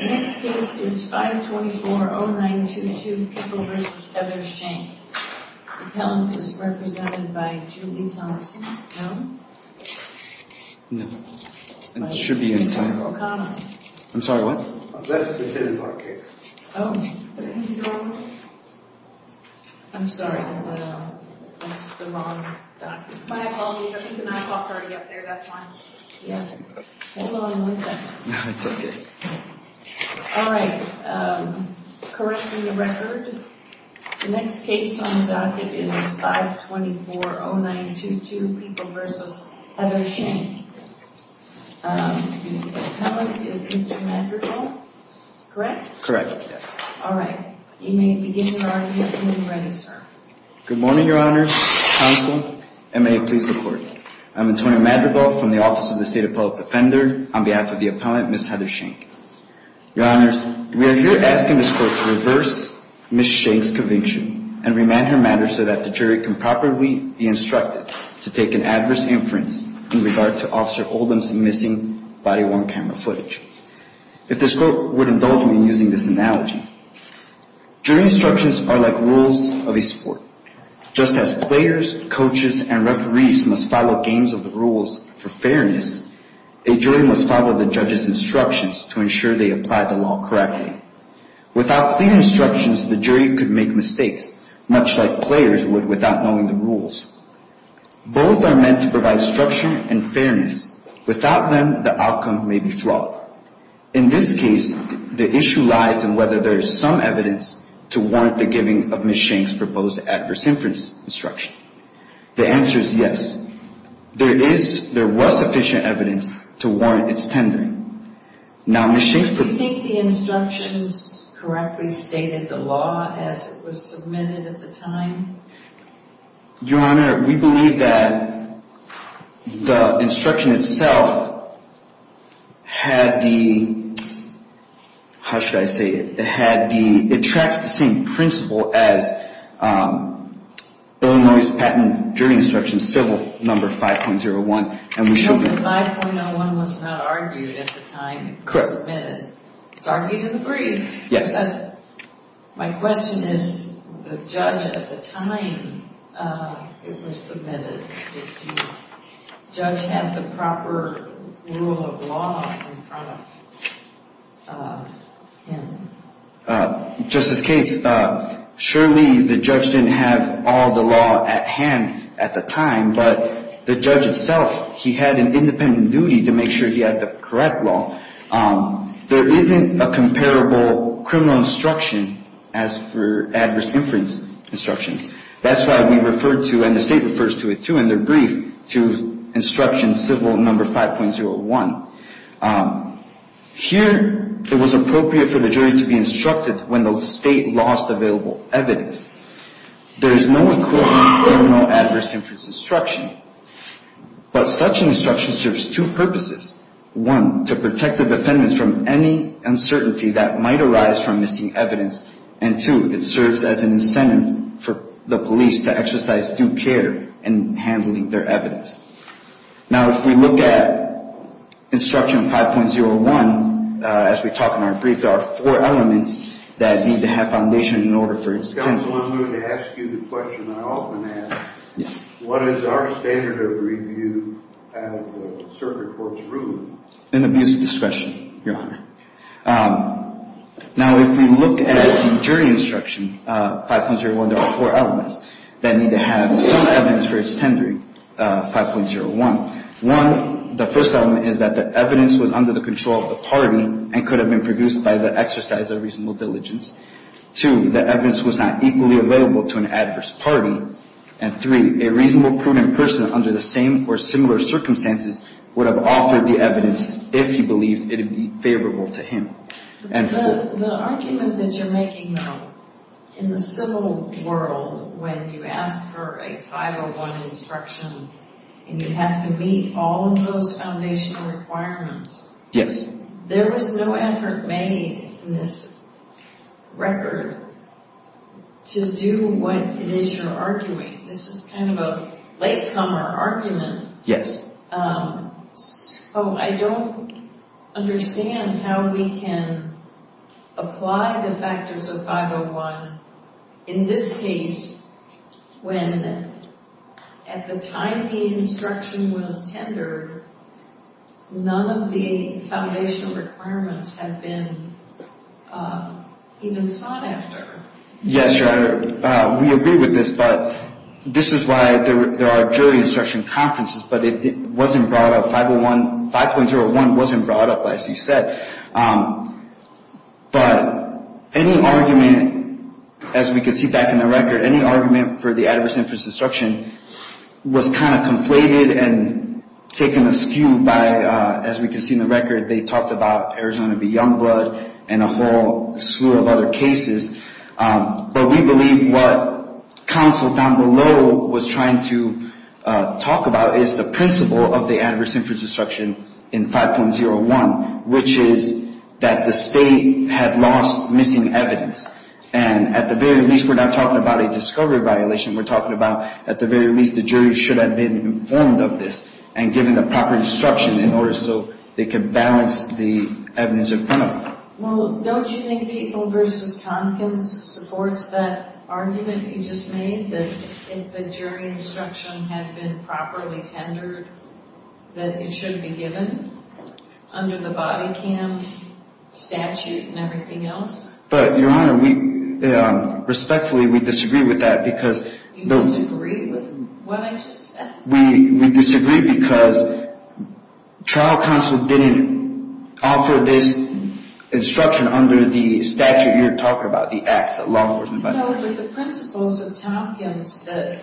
The next case is 524-0922, Pickle v. Heather Shank. The appellant is represented by Julie Thompson. No. It should be inside. O'Connor. I'm sorry, what? That's the hidden bar case. Oh. I'm sorry. That's the wrong document. My apologies. I think the 9 o'clock's already up there. That's why. Yeah. Hold on one second. No, it's okay. All right. Correcting the record. The next case on the docket is 524-0922, Pickle v. Heather Shank. The appellant is Mr. Madrigal. Correct? Correct. All right. You may begin your argument when you're ready, sir. Good morning, Your Honors, Counsel, and may it please the Court. I'm Antonio Madrigal from the Office of the State Appellate Defender. On behalf of the appellant, Ms. Heather Shank. Your Honors, we are here asking this Court to reverse Ms. Shank's conviction and remand her matter so that the jury can properly be instructed to take an adverse inference in regard to Officer Oldham's missing body-worn camera footage. If this Court would indulge me in using this analogy. Jury instructions are like rules of a sport. Just as players, coaches, and referees must follow games of the rules for fairness, a jury must follow the judge's instructions to ensure they apply the law correctly. Without clear instructions, the jury could make mistakes, much like players would without knowing the rules. Both are meant to provide structure and fairness. Without them, the outcome may be flawed. In this case, the issue lies in whether there is some evidence to warrant the giving of Ms. Shank's proposed adverse inference instruction. The answer is yes. There is, there was sufficient evidence to warrant its tendering. Now Ms. Shank's... Do you think the instructions correctly stated the law as it was submitted at the time? Your Honor, we believe that the instruction itself had the... How should I say it? It had the... It tracks the same principle as Illinois' patent jury instructions, civil number 5.01. No, but 5.01 was not argued at the time it was submitted. It's argued in the brief. Yes. My question is, the judge at the time it was submitted, did the judge have the proper rule of law in front of him? Justice Katz, surely the judge didn't have all the law at hand at the time, but the judge itself, he had an independent duty to make sure he had the correct law. There isn't a comparable criminal instruction as for adverse inference instructions. That's why we referred to, and the State refers to it too in their brief, to instruction civil number 5.01. Here, it was appropriate for the jury to be instructed when the State lost available evidence. There is no equivalent criminal adverse inference instruction, but such instruction serves two purposes. One, to protect the defendants from any uncertainty that might arise from missing evidence, and two, it serves as an incentive for the police to exercise due care in handling their evidence. Now, if we look at instruction 5.01, as we talk in our brief, there are four elements that need to have foundation in order for it to... Counsel, I'm going to ask you the question I often ask. What is our standard of review at the circuit court's room? In the abuse of discretion, Your Honor. Now, if we look at the jury instruction 5.01, there are four elements that need to have some evidence for its tendering, 5.01. One, the first element is that the evidence was under the control of the party and could have been produced by the exercise of reasonable diligence. Two, the evidence was not equally available to an adverse party. And three, a reasonable, prudent person under the same or similar circumstances would have offered the evidence if he believed it would be favorable to him. The argument that you're making now, in the civil world, when you ask for a 5.01 instruction and you have to meet all of those foundational requirements, there was no effort made in this record to do what it is you're arguing. This is kind of a latecomer argument. Yes. So I don't understand how we can apply the factors of 5.01. In this case, when at the time the instruction was tendered, none of the foundational requirements have been even sought after. Yes, Your Honor. We agree with this. But this is why there are jury instruction conferences. But it wasn't brought up. 5.01 wasn't brought up, as you said. But any argument, as we can see back in the record, any argument for the adverse influence instruction was kind of conflated and taken askew by, as we can see in the record, they talked about Arizona v. Youngblood and a whole slew of other cases. But we believe what counsel down below was trying to talk about is the principle of the adverse influence instruction in 5.01, which is that the state had lost missing evidence. And at the very least, we're not talking about a discovery violation. We're talking about, at the very least, the jury should have been informed of this and given the proper instruction in order so they could balance the evidence in front of them. Well, don't you think People v. Tompkins supports that argument you just made that if the jury instruction had been properly tendered, that it should be given under the body cam statute and everything else? But, Your Honor, respectfully, we disagree with that because... You disagree with what I just said? We disagree because trial counsel didn't offer this instruction under the statute you're talking about, the Act, the law enforcement body. No, but the principles of Tompkins that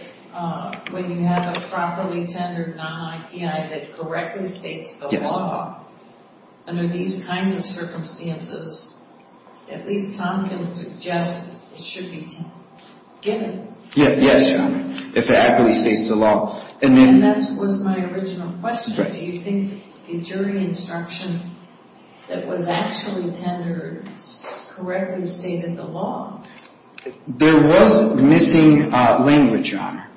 when you have a properly tendered non-IPI that correctly states the law under these kinds of circumstances, at least Tompkins suggests it should be given. Yes, Your Honor, if it accurately states the law. And that was my original question. Do you think the jury instruction that was actually tendered correctly stated the law? There was missing language, Your Honor.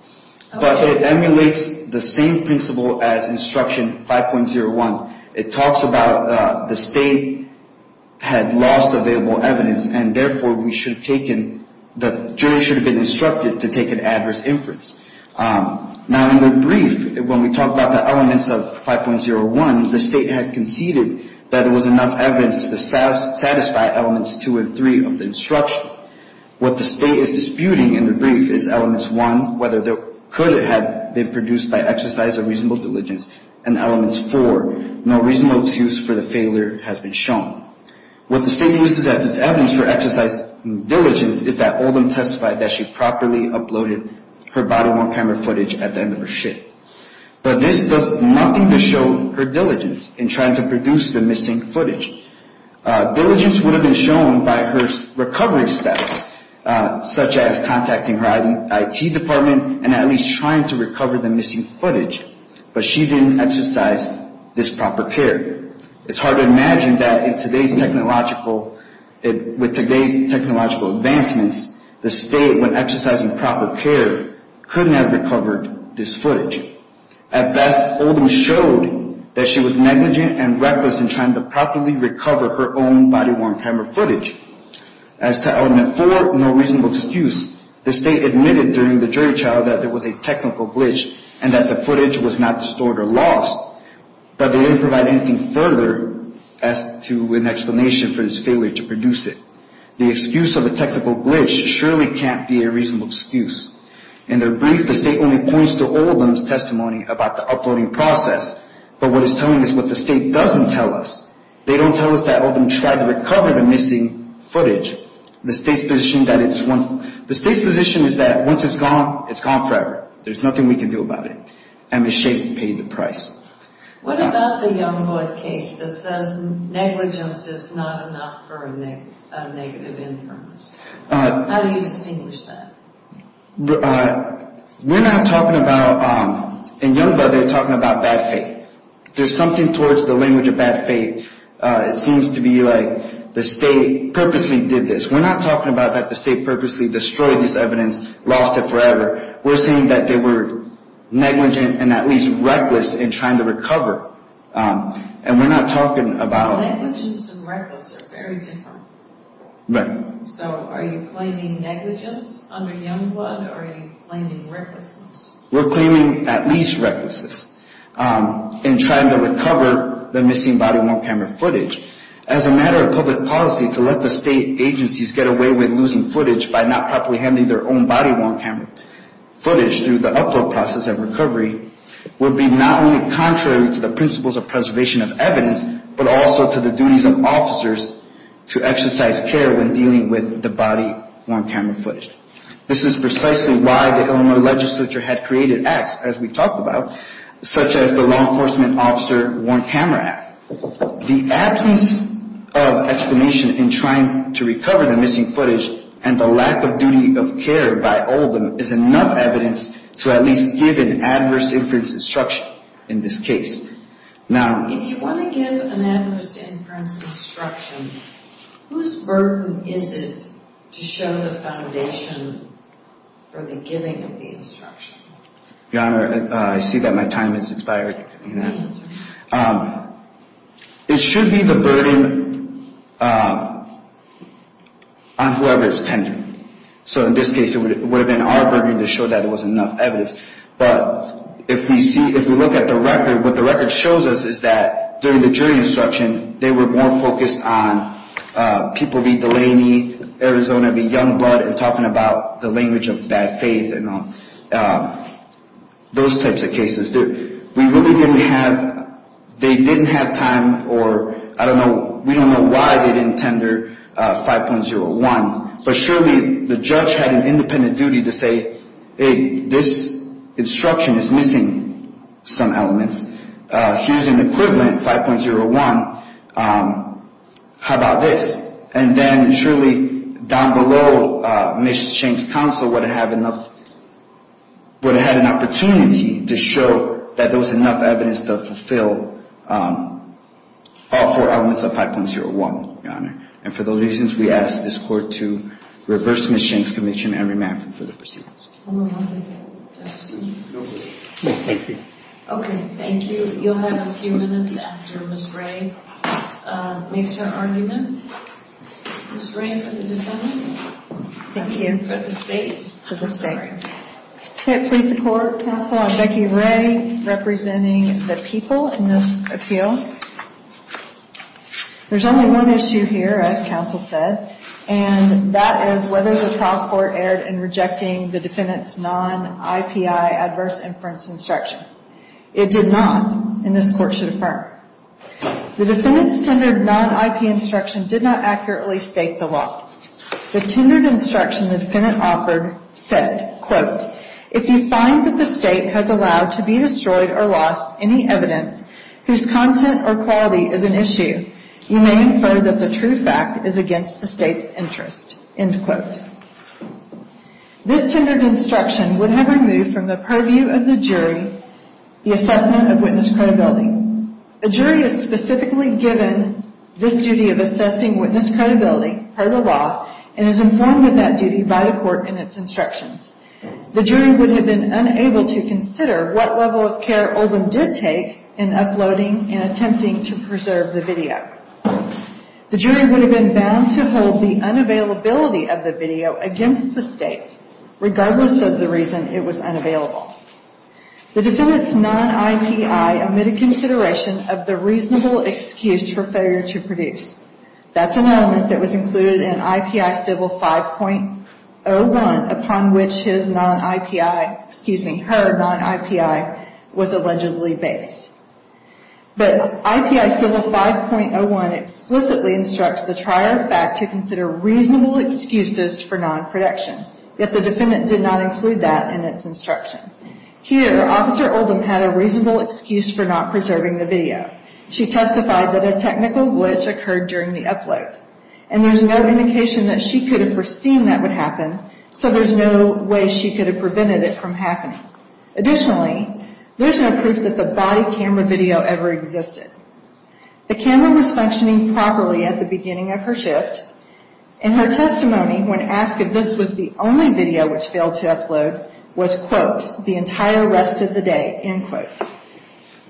But it emulates the same principle as instruction 5.01. It talks about the state had lost available evidence and therefore we should have taken, the jury should have been instructed to take an adverse inference. Now in the brief, when we talk about the elements of 5.01, the state had conceded that it was enough evidence to satisfy elements 2 and 3 of the instruction. What the state is disputing in the brief is elements 1, whether it could have been produced by exercise of reasonable diligence, and elements 4, no reasonable excuse for the failure has been shown. What the state uses as its evidence for exercise of diligence is that Oldham testified that she properly uploaded her body-worn camera footage at the end of her shift. But this does nothing to show her diligence in trying to produce the missing footage. Diligence would have been shown by her recovery steps, such as contacting her IT department and at least trying to recover the missing footage. But she didn't exercise this proper care. It's hard to imagine that with today's technological advancements, the state, when exercising proper care, couldn't have recovered this footage. At best, Oldham showed that she was negligent and reckless in trying to properly recover her own body-worn camera footage. As to element 4, no reasonable excuse, the state admitted during the jury trial that there was a technical glitch and that the footage was not distorted or lost, but they didn't provide anything further as to an explanation for this failure to produce it. The excuse of a technical glitch surely can't be a reasonable excuse. In their brief, the state only points to Oldham's testimony about the uploading process, but what it's telling us is what the state doesn't tell us. They don't tell us that Oldham tried to recover the missing footage. The state's position is that once it's gone, it's gone forever. There's nothing we can do about it. And Ms. Shade paid the price. What about the Youngblood case that says negligence is not enough for a negative inference? How do you distinguish that? We're not talking about, in Youngblood, they're talking about bad faith. There's something towards the language of bad faith. It seems to be like the state purposely did this. We're not talking about that the state purposely destroyed this evidence, lost it forever. We're saying that they were negligent and at least reckless in trying to recover. And we're not talking about... Negligence and reckless are very different. Right. So are you claiming negligence under Youngblood or are you claiming recklessness? We're claiming at least recklessness in trying to recover the missing body-worn camera footage. As a matter of public policy, to let the state agencies get away with losing footage by not properly handling their own body-worn camera footage through the upload process and recovery would be not only contrary to the principles of preservation of evidence, but also to the duties of officers to exercise care when dealing with the body-worn camera footage. This is precisely why the Illinois legislature had created acts, as we talked about, such as the Law Enforcement Officer Worn Camera Act. The absence of explanation in trying to recover the missing footage and the lack of duty of care by all of them is enough evidence to at least give an adverse inference instruction in this case. Now... If you want to give an adverse inference instruction, whose burden is it to show the foundation for the giving of the instruction? Your Honor, I see that my time has expired. It should be the burden on whoever is tender. So in this case, it would have been our burden to show that there was enough evidence. But if we look at the record, what the record shows us is that during the jury instruction, they were more focused on people being Delaney, Arizona, Youngblood, and talking about the language of bad faith and those types of cases. We really didn't have... They didn't have time or... I don't know... We don't know why they didn't tender 5.01. But surely, the judge had an independent duty to say, hey, this instruction is missing some elements. Here's an equivalent, 5.01. How about this? And then surely, down below, Ms. Shank's counsel would have had enough... to show that there was enough evidence to fulfill all four elements of 5.01, Your Honor. And for those reasons, we ask this Court to reverse Ms. Shank's conviction and remand her for the proceedings. Okay, thank you. You'll have a few minutes after Ms. Ray makes her argument. Ms. Ray, for the defendant. Thank you. For the state. I'm sorry. Okay, please support, counsel. I'm Becky Ray, representing the people in this appeal. There's only one issue here, as counsel said, and that is whether the trial court erred in rejecting the defendant's non-IPI adverse inference instruction. It did not, and this Court should affirm. The defendant's tendered non-IPI instruction did not accurately state the law. The tendered instruction the defendant offered said, If you find that the state has allowed to be destroyed or lost any evidence whose content or quality is an issue, you may infer that the true fact is against the state's interest. End quote. This tendered instruction would have removed from the purview of the jury the assessment of witness credibility. A jury is specifically given this duty of assessing witness credibility per the law and is informed of that duty by the court in its instructions. The jury would have been unable to consider what level of care Oldham did take in uploading and attempting to preserve the video. The jury would have been bound to hold the unavailability of the video against the state, regardless of the reason it was unavailable. The defendant's non-IPI omitted consideration of the reasonable excuse for failure to produce. That's an element that was included in IPI Civil 5.01, upon which his non-IPI, excuse me, her non-IPI was allegedly based. But IPI Civil 5.01 explicitly instructs the trier of fact to consider reasonable excuses for non-production. Yet the defendant did not include that in its instruction. Here, Officer Oldham had a reasonable excuse for not preserving the video. She testified that a technical glitch occurred during the upload. And there's no indication that she could have foreseen that would happen, so there's no way she could have prevented it from happening. Additionally, there's no proof that the body camera video ever existed. The camera was functioning properly at the beginning of her shift. In her testimony, when asked if this was the only video which failed to upload, was, quote, the entire rest of the day, end quote.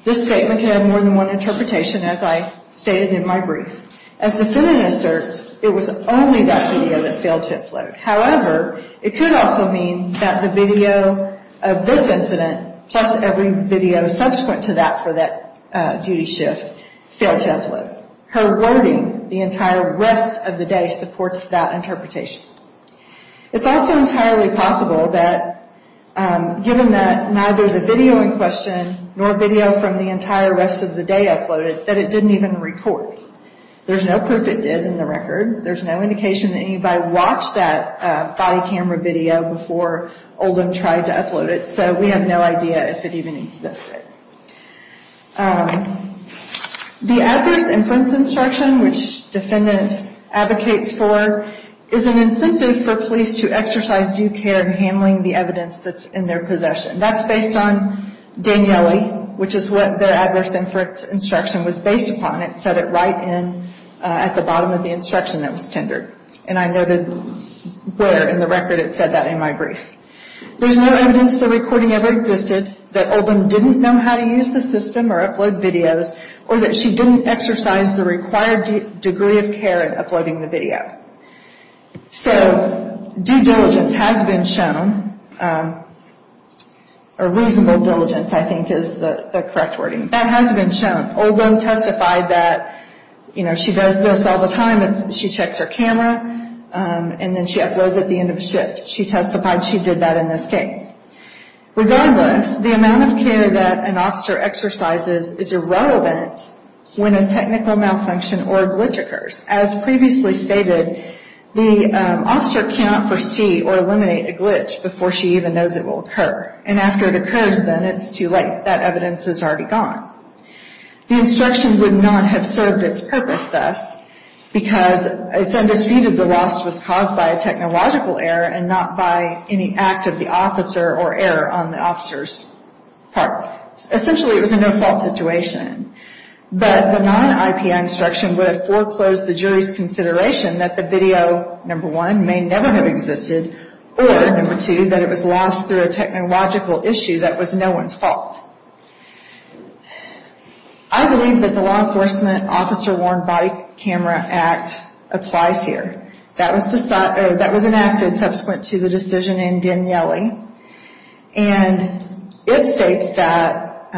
This statement can have more than one interpretation, as I stated in my brief. As the defendant asserts, it was only that video that failed to upload. However, it could also mean that the video of this incident, plus every video subsequent to that for that duty shift, failed to upload. Her wording, the entire rest of the day, supports that interpretation. It's also entirely possible that, given that neither the video in question, nor video from the entire rest of the day uploaded, that it didn't even record. There's no proof it did in the record. There's no indication that anybody watched that body camera video before Oldham tried to upload it, so we have no idea if it even existed. The Adverse Inference Instruction, which defendants advocate for, is an incentive for police to exercise due care in handling the evidence that's in their possession. That's based on Daniele, which is what their Adverse Inference Instruction was based upon. It said it right at the bottom of the instruction that was tendered. And I noted where in the record it said that in my brief. There's no evidence the recording ever existed, that Oldham didn't know how to use the system or upload videos, or that she didn't exercise the required degree of care in uploading the video. So, due diligence has been shown, or reasonable diligence I think is the correct wording. That has been shown. Oldham testified that, you know, she does this all the time. She checks her camera, and then she uploads at the end of a shift. She testified she did that in this case. Regardless, the amount of care that an officer exercises is irrelevant when a technical malfunction or a glitch occurs. As previously stated, the officer cannot foresee or eliminate a glitch before she even knows it will occur. And after it occurs then, it's too late. That evidence is already gone. The instruction would not have served its purpose thus, because it's undisputed the loss was caused by a technological error and not by any act of the officer or error on the officer's part. Essentially, it was a no-fault situation. But the non-IPI instruction would have foreclosed the jury's consideration that the video, number one, may never have existed, or, number two, that it was lost through a technological issue that was no one's fault. I believe that the Law Enforcement Officer Worn Body Camera Act applies here. That was enacted subsequent to the decision in Daniele. And it states that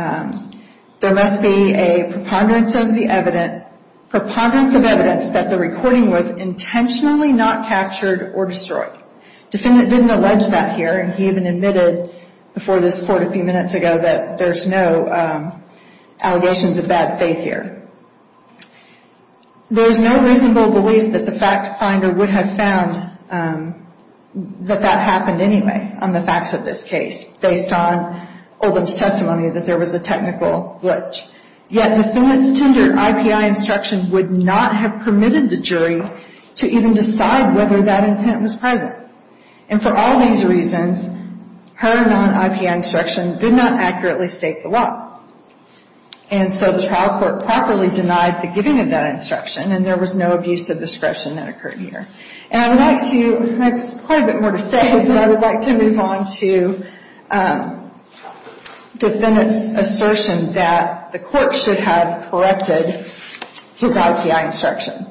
there must be a preponderance of evidence that the recording was intentionally not captured or destroyed. The defendant didn't allege that here, and he even admitted before this court a few minutes ago that there's no allegations of bad faith here. There's no reasonable belief that the fact finder would have found that that happened anyway on the facts of this case, based on Oldham's testimony that there was a technical glitch. Yet the defendant's tender IPI instruction would not have permitted the jury to even decide whether that intent was present. And for all these reasons, her non-IPI instruction did not accurately state the law. And so the trial court properly denied the giving of that instruction, and there was no abuse of discretion that occurred here. And I would like to, I have quite a bit more to say, but I would like to move on to the defendant's assertion that the court should have corrected his IPI instruction.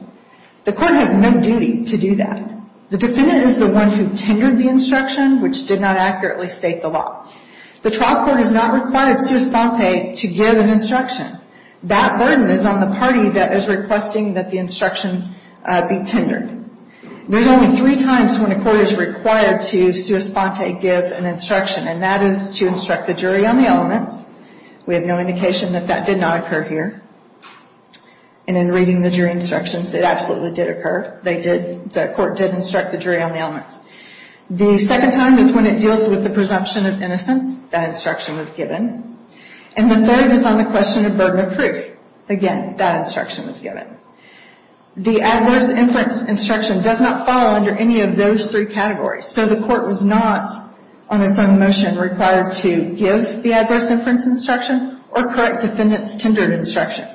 The court has no duty to do that. The defendant is the one who tendered the instruction, which did not accurately state the law. The trial court has not required sua sponte to give an instruction. That burden is on the party that is requesting that the instruction be tendered. There's only three times when a court is required to sua sponte give an instruction, and that is to instruct the jury on the elements. We have no indication that that did not occur here. And in reading the jury instructions, it absolutely did occur. They did, the court did instruct the jury on the elements. The second time is when it deals with the presumption of innocence. That instruction was given. And the third is on the question of burden of proof. Again, that instruction was given. The adverse inference instruction does not fall under any of those three categories. So the court was not, on its own motion, required to give the adverse inference instruction or correct defendant's tendered instruction.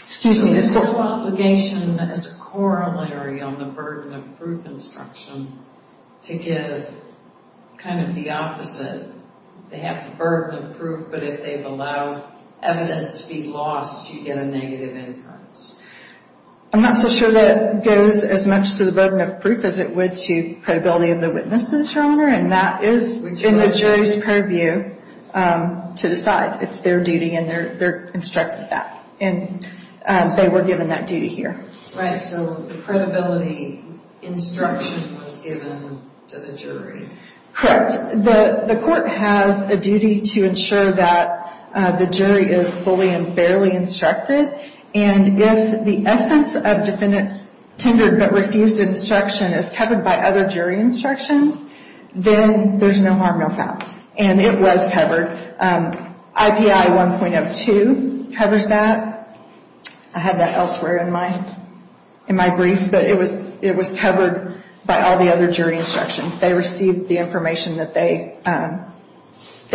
Excuse me. The sole obligation is corollary on the burden of proof instruction to give kind of the opposite. They have the burden of proof, but if they've allowed evidence to be lost, you get a negative inference. I'm not so sure that goes as much to the burden of proof as it would to credibility of the witness, Your Honor. And that is in the jury's purview to decide. It's their duty, and they're instructed that. And they were given that duty here. Right, so the credibility instruction was given to the jury. Correct. The court has a duty to ensure that the jury is fully and fairly instructed. And if the essence of defendant's tendered but refused instruction is covered by other jury instructions, then there's no harm, no foul. And it was covered. IPI 1.02 covers that. I had that elsewhere in my brief, but it was covered by all the other jury instructions. They received the information that they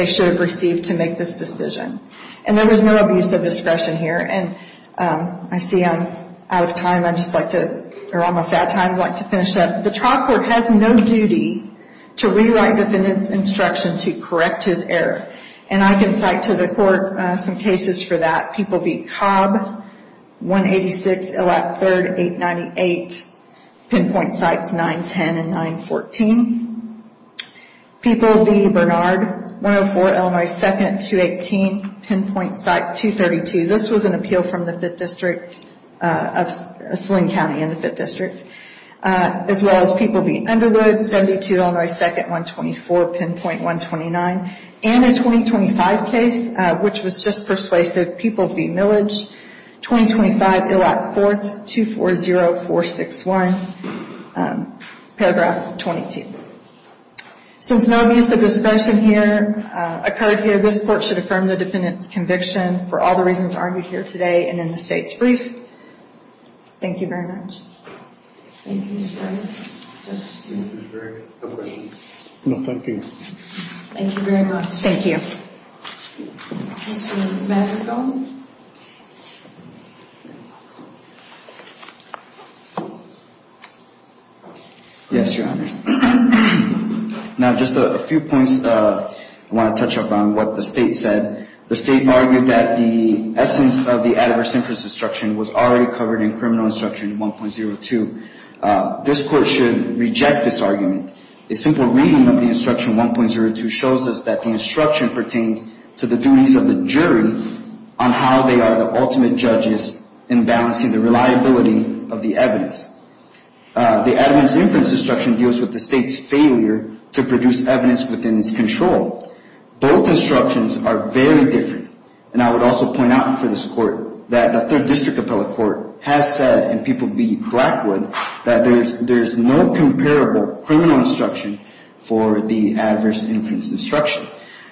should have received to make this decision. And there was no abuse of discretion here. And I see I'm out of time. I'd just like to, or almost out of time, I'd like to finish up. The trial court has no duty to rewrite defendant's instruction to correct his error. And I can cite to the court some cases for that. People v. Cobb, 186, LAC 3rd, 898. Pinpoint sites 910 and 914. People v. Bernard, 104, Illinois 2nd, 218. Pinpoint site 232. This was an appeal from the 5th District, of Slim County in the 5th District. As well as people v. Underwood, 72, Illinois 2nd, 124. Pinpoint 129. And a 2025 case, which was just persuasive. People v. Millage, 2025, ILL Act 4th, 240461, paragraph 22. Since no abuse of discretion here, occurred here, this court should affirm the defendant's conviction for all the reasons argued here today and in the state's brief. Thank you very much. Thank you, Mr. Governor. Thank you very much. No, thank you. Thank you very much. Thank you. Mr. Madrigal. Yes, Your Honor. Now, just a few points I want to touch upon, what the state said. The state argued that the essence of the adverse inference instruction was already covered in Criminal Instruction 1.02. This court should reject this argument. A simple reading of the Instruction 1.02 shows us that the instruction pertains to the duties of the jury on how they are the ultimate judges in balancing the reliability of the evidence. The adverse inference instruction deals with the state's failure to produce evidence within its control. Both instructions are very different. And I would also point out for this court that the 3rd District Appellate Court has said, and people be black with, that there is no comparable criminal instruction for the adverse inference instruction.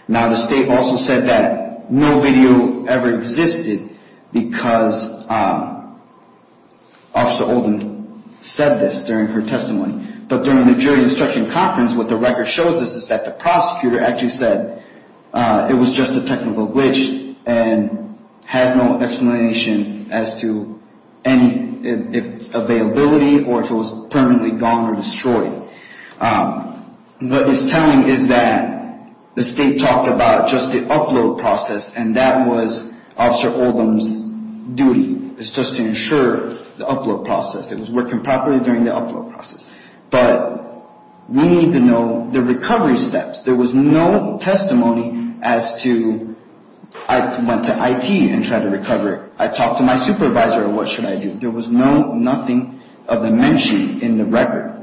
Now, the state also said that no video ever existed because Officer Oldham said this during her testimony. But during the jury instruction conference, what the record shows us is that the prosecutor actually said it was just a technical glitch and has no explanation as to any, if availability or if it was permanently gone or destroyed. What it's telling is that the state talked about just the upload process and that was Officer Oldham's duty. It's just to ensure the upload process. It was working properly during the upload process. But we need to know the recovery steps. There was no testimony as to, I went to IT and tried to recover it. I talked to my supervisor. What should I do? There was nothing of the mention in the record.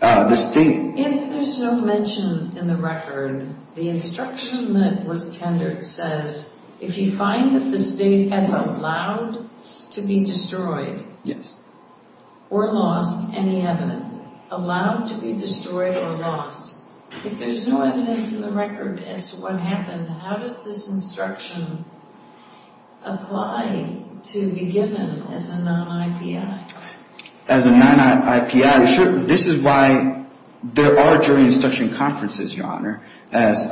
The state. If there's no mention in the record, the instruction that was tendered says, if you find that the state has allowed to be destroyed or lost any evidence, allowed to be destroyed or lost, if there's no evidence in the record as to what happened, how does this instruction apply to be given as a non-IPI? As a non-IPI, this is why there are jury instruction conferences, Your Honor, as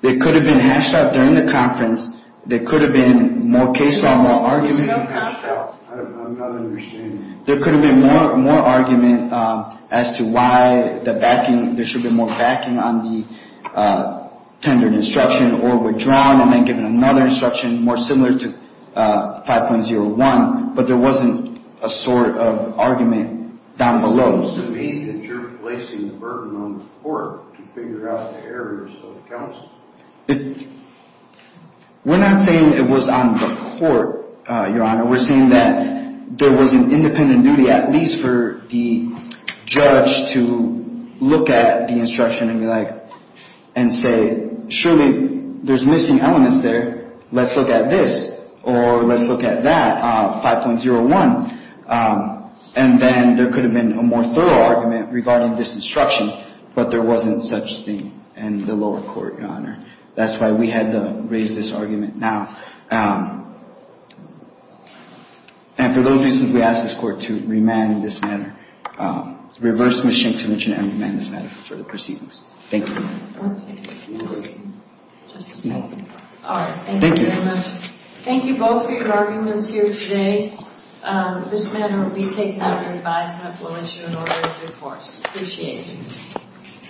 they could have been hashed out during the conference. There could have been more case law, more argument. I'm not understanding. There could have been more argument as to why the backing, there should have been more backing on the tendered instruction or withdrawn and then given another instruction more similar to 5.01, but there wasn't a sort of argument down below. Does this mean that you're placing the burden on the court to figure out the errors of counts? We're not saying it was on the court, Your Honor. We're saying that there was an independent duty, at least for the judge, to look at the instruction and say, surely there's missing elements there. Let's look at this or let's look at that, 5.01. And then there could have been a more thorough argument regarding this instruction, but there wasn't such thing in the lower court, Your Honor. That's why we had to raise this argument now. And for those reasons, we ask this court to remand in this manner. Reverse Ms. Schenk to mention and remand in this manner for the proceedings. Thank you. All right. Thank you very much. Thank you both for your arguments here today. This matter will be taken under advisement and we'll issue an order of recourse. Appreciate it.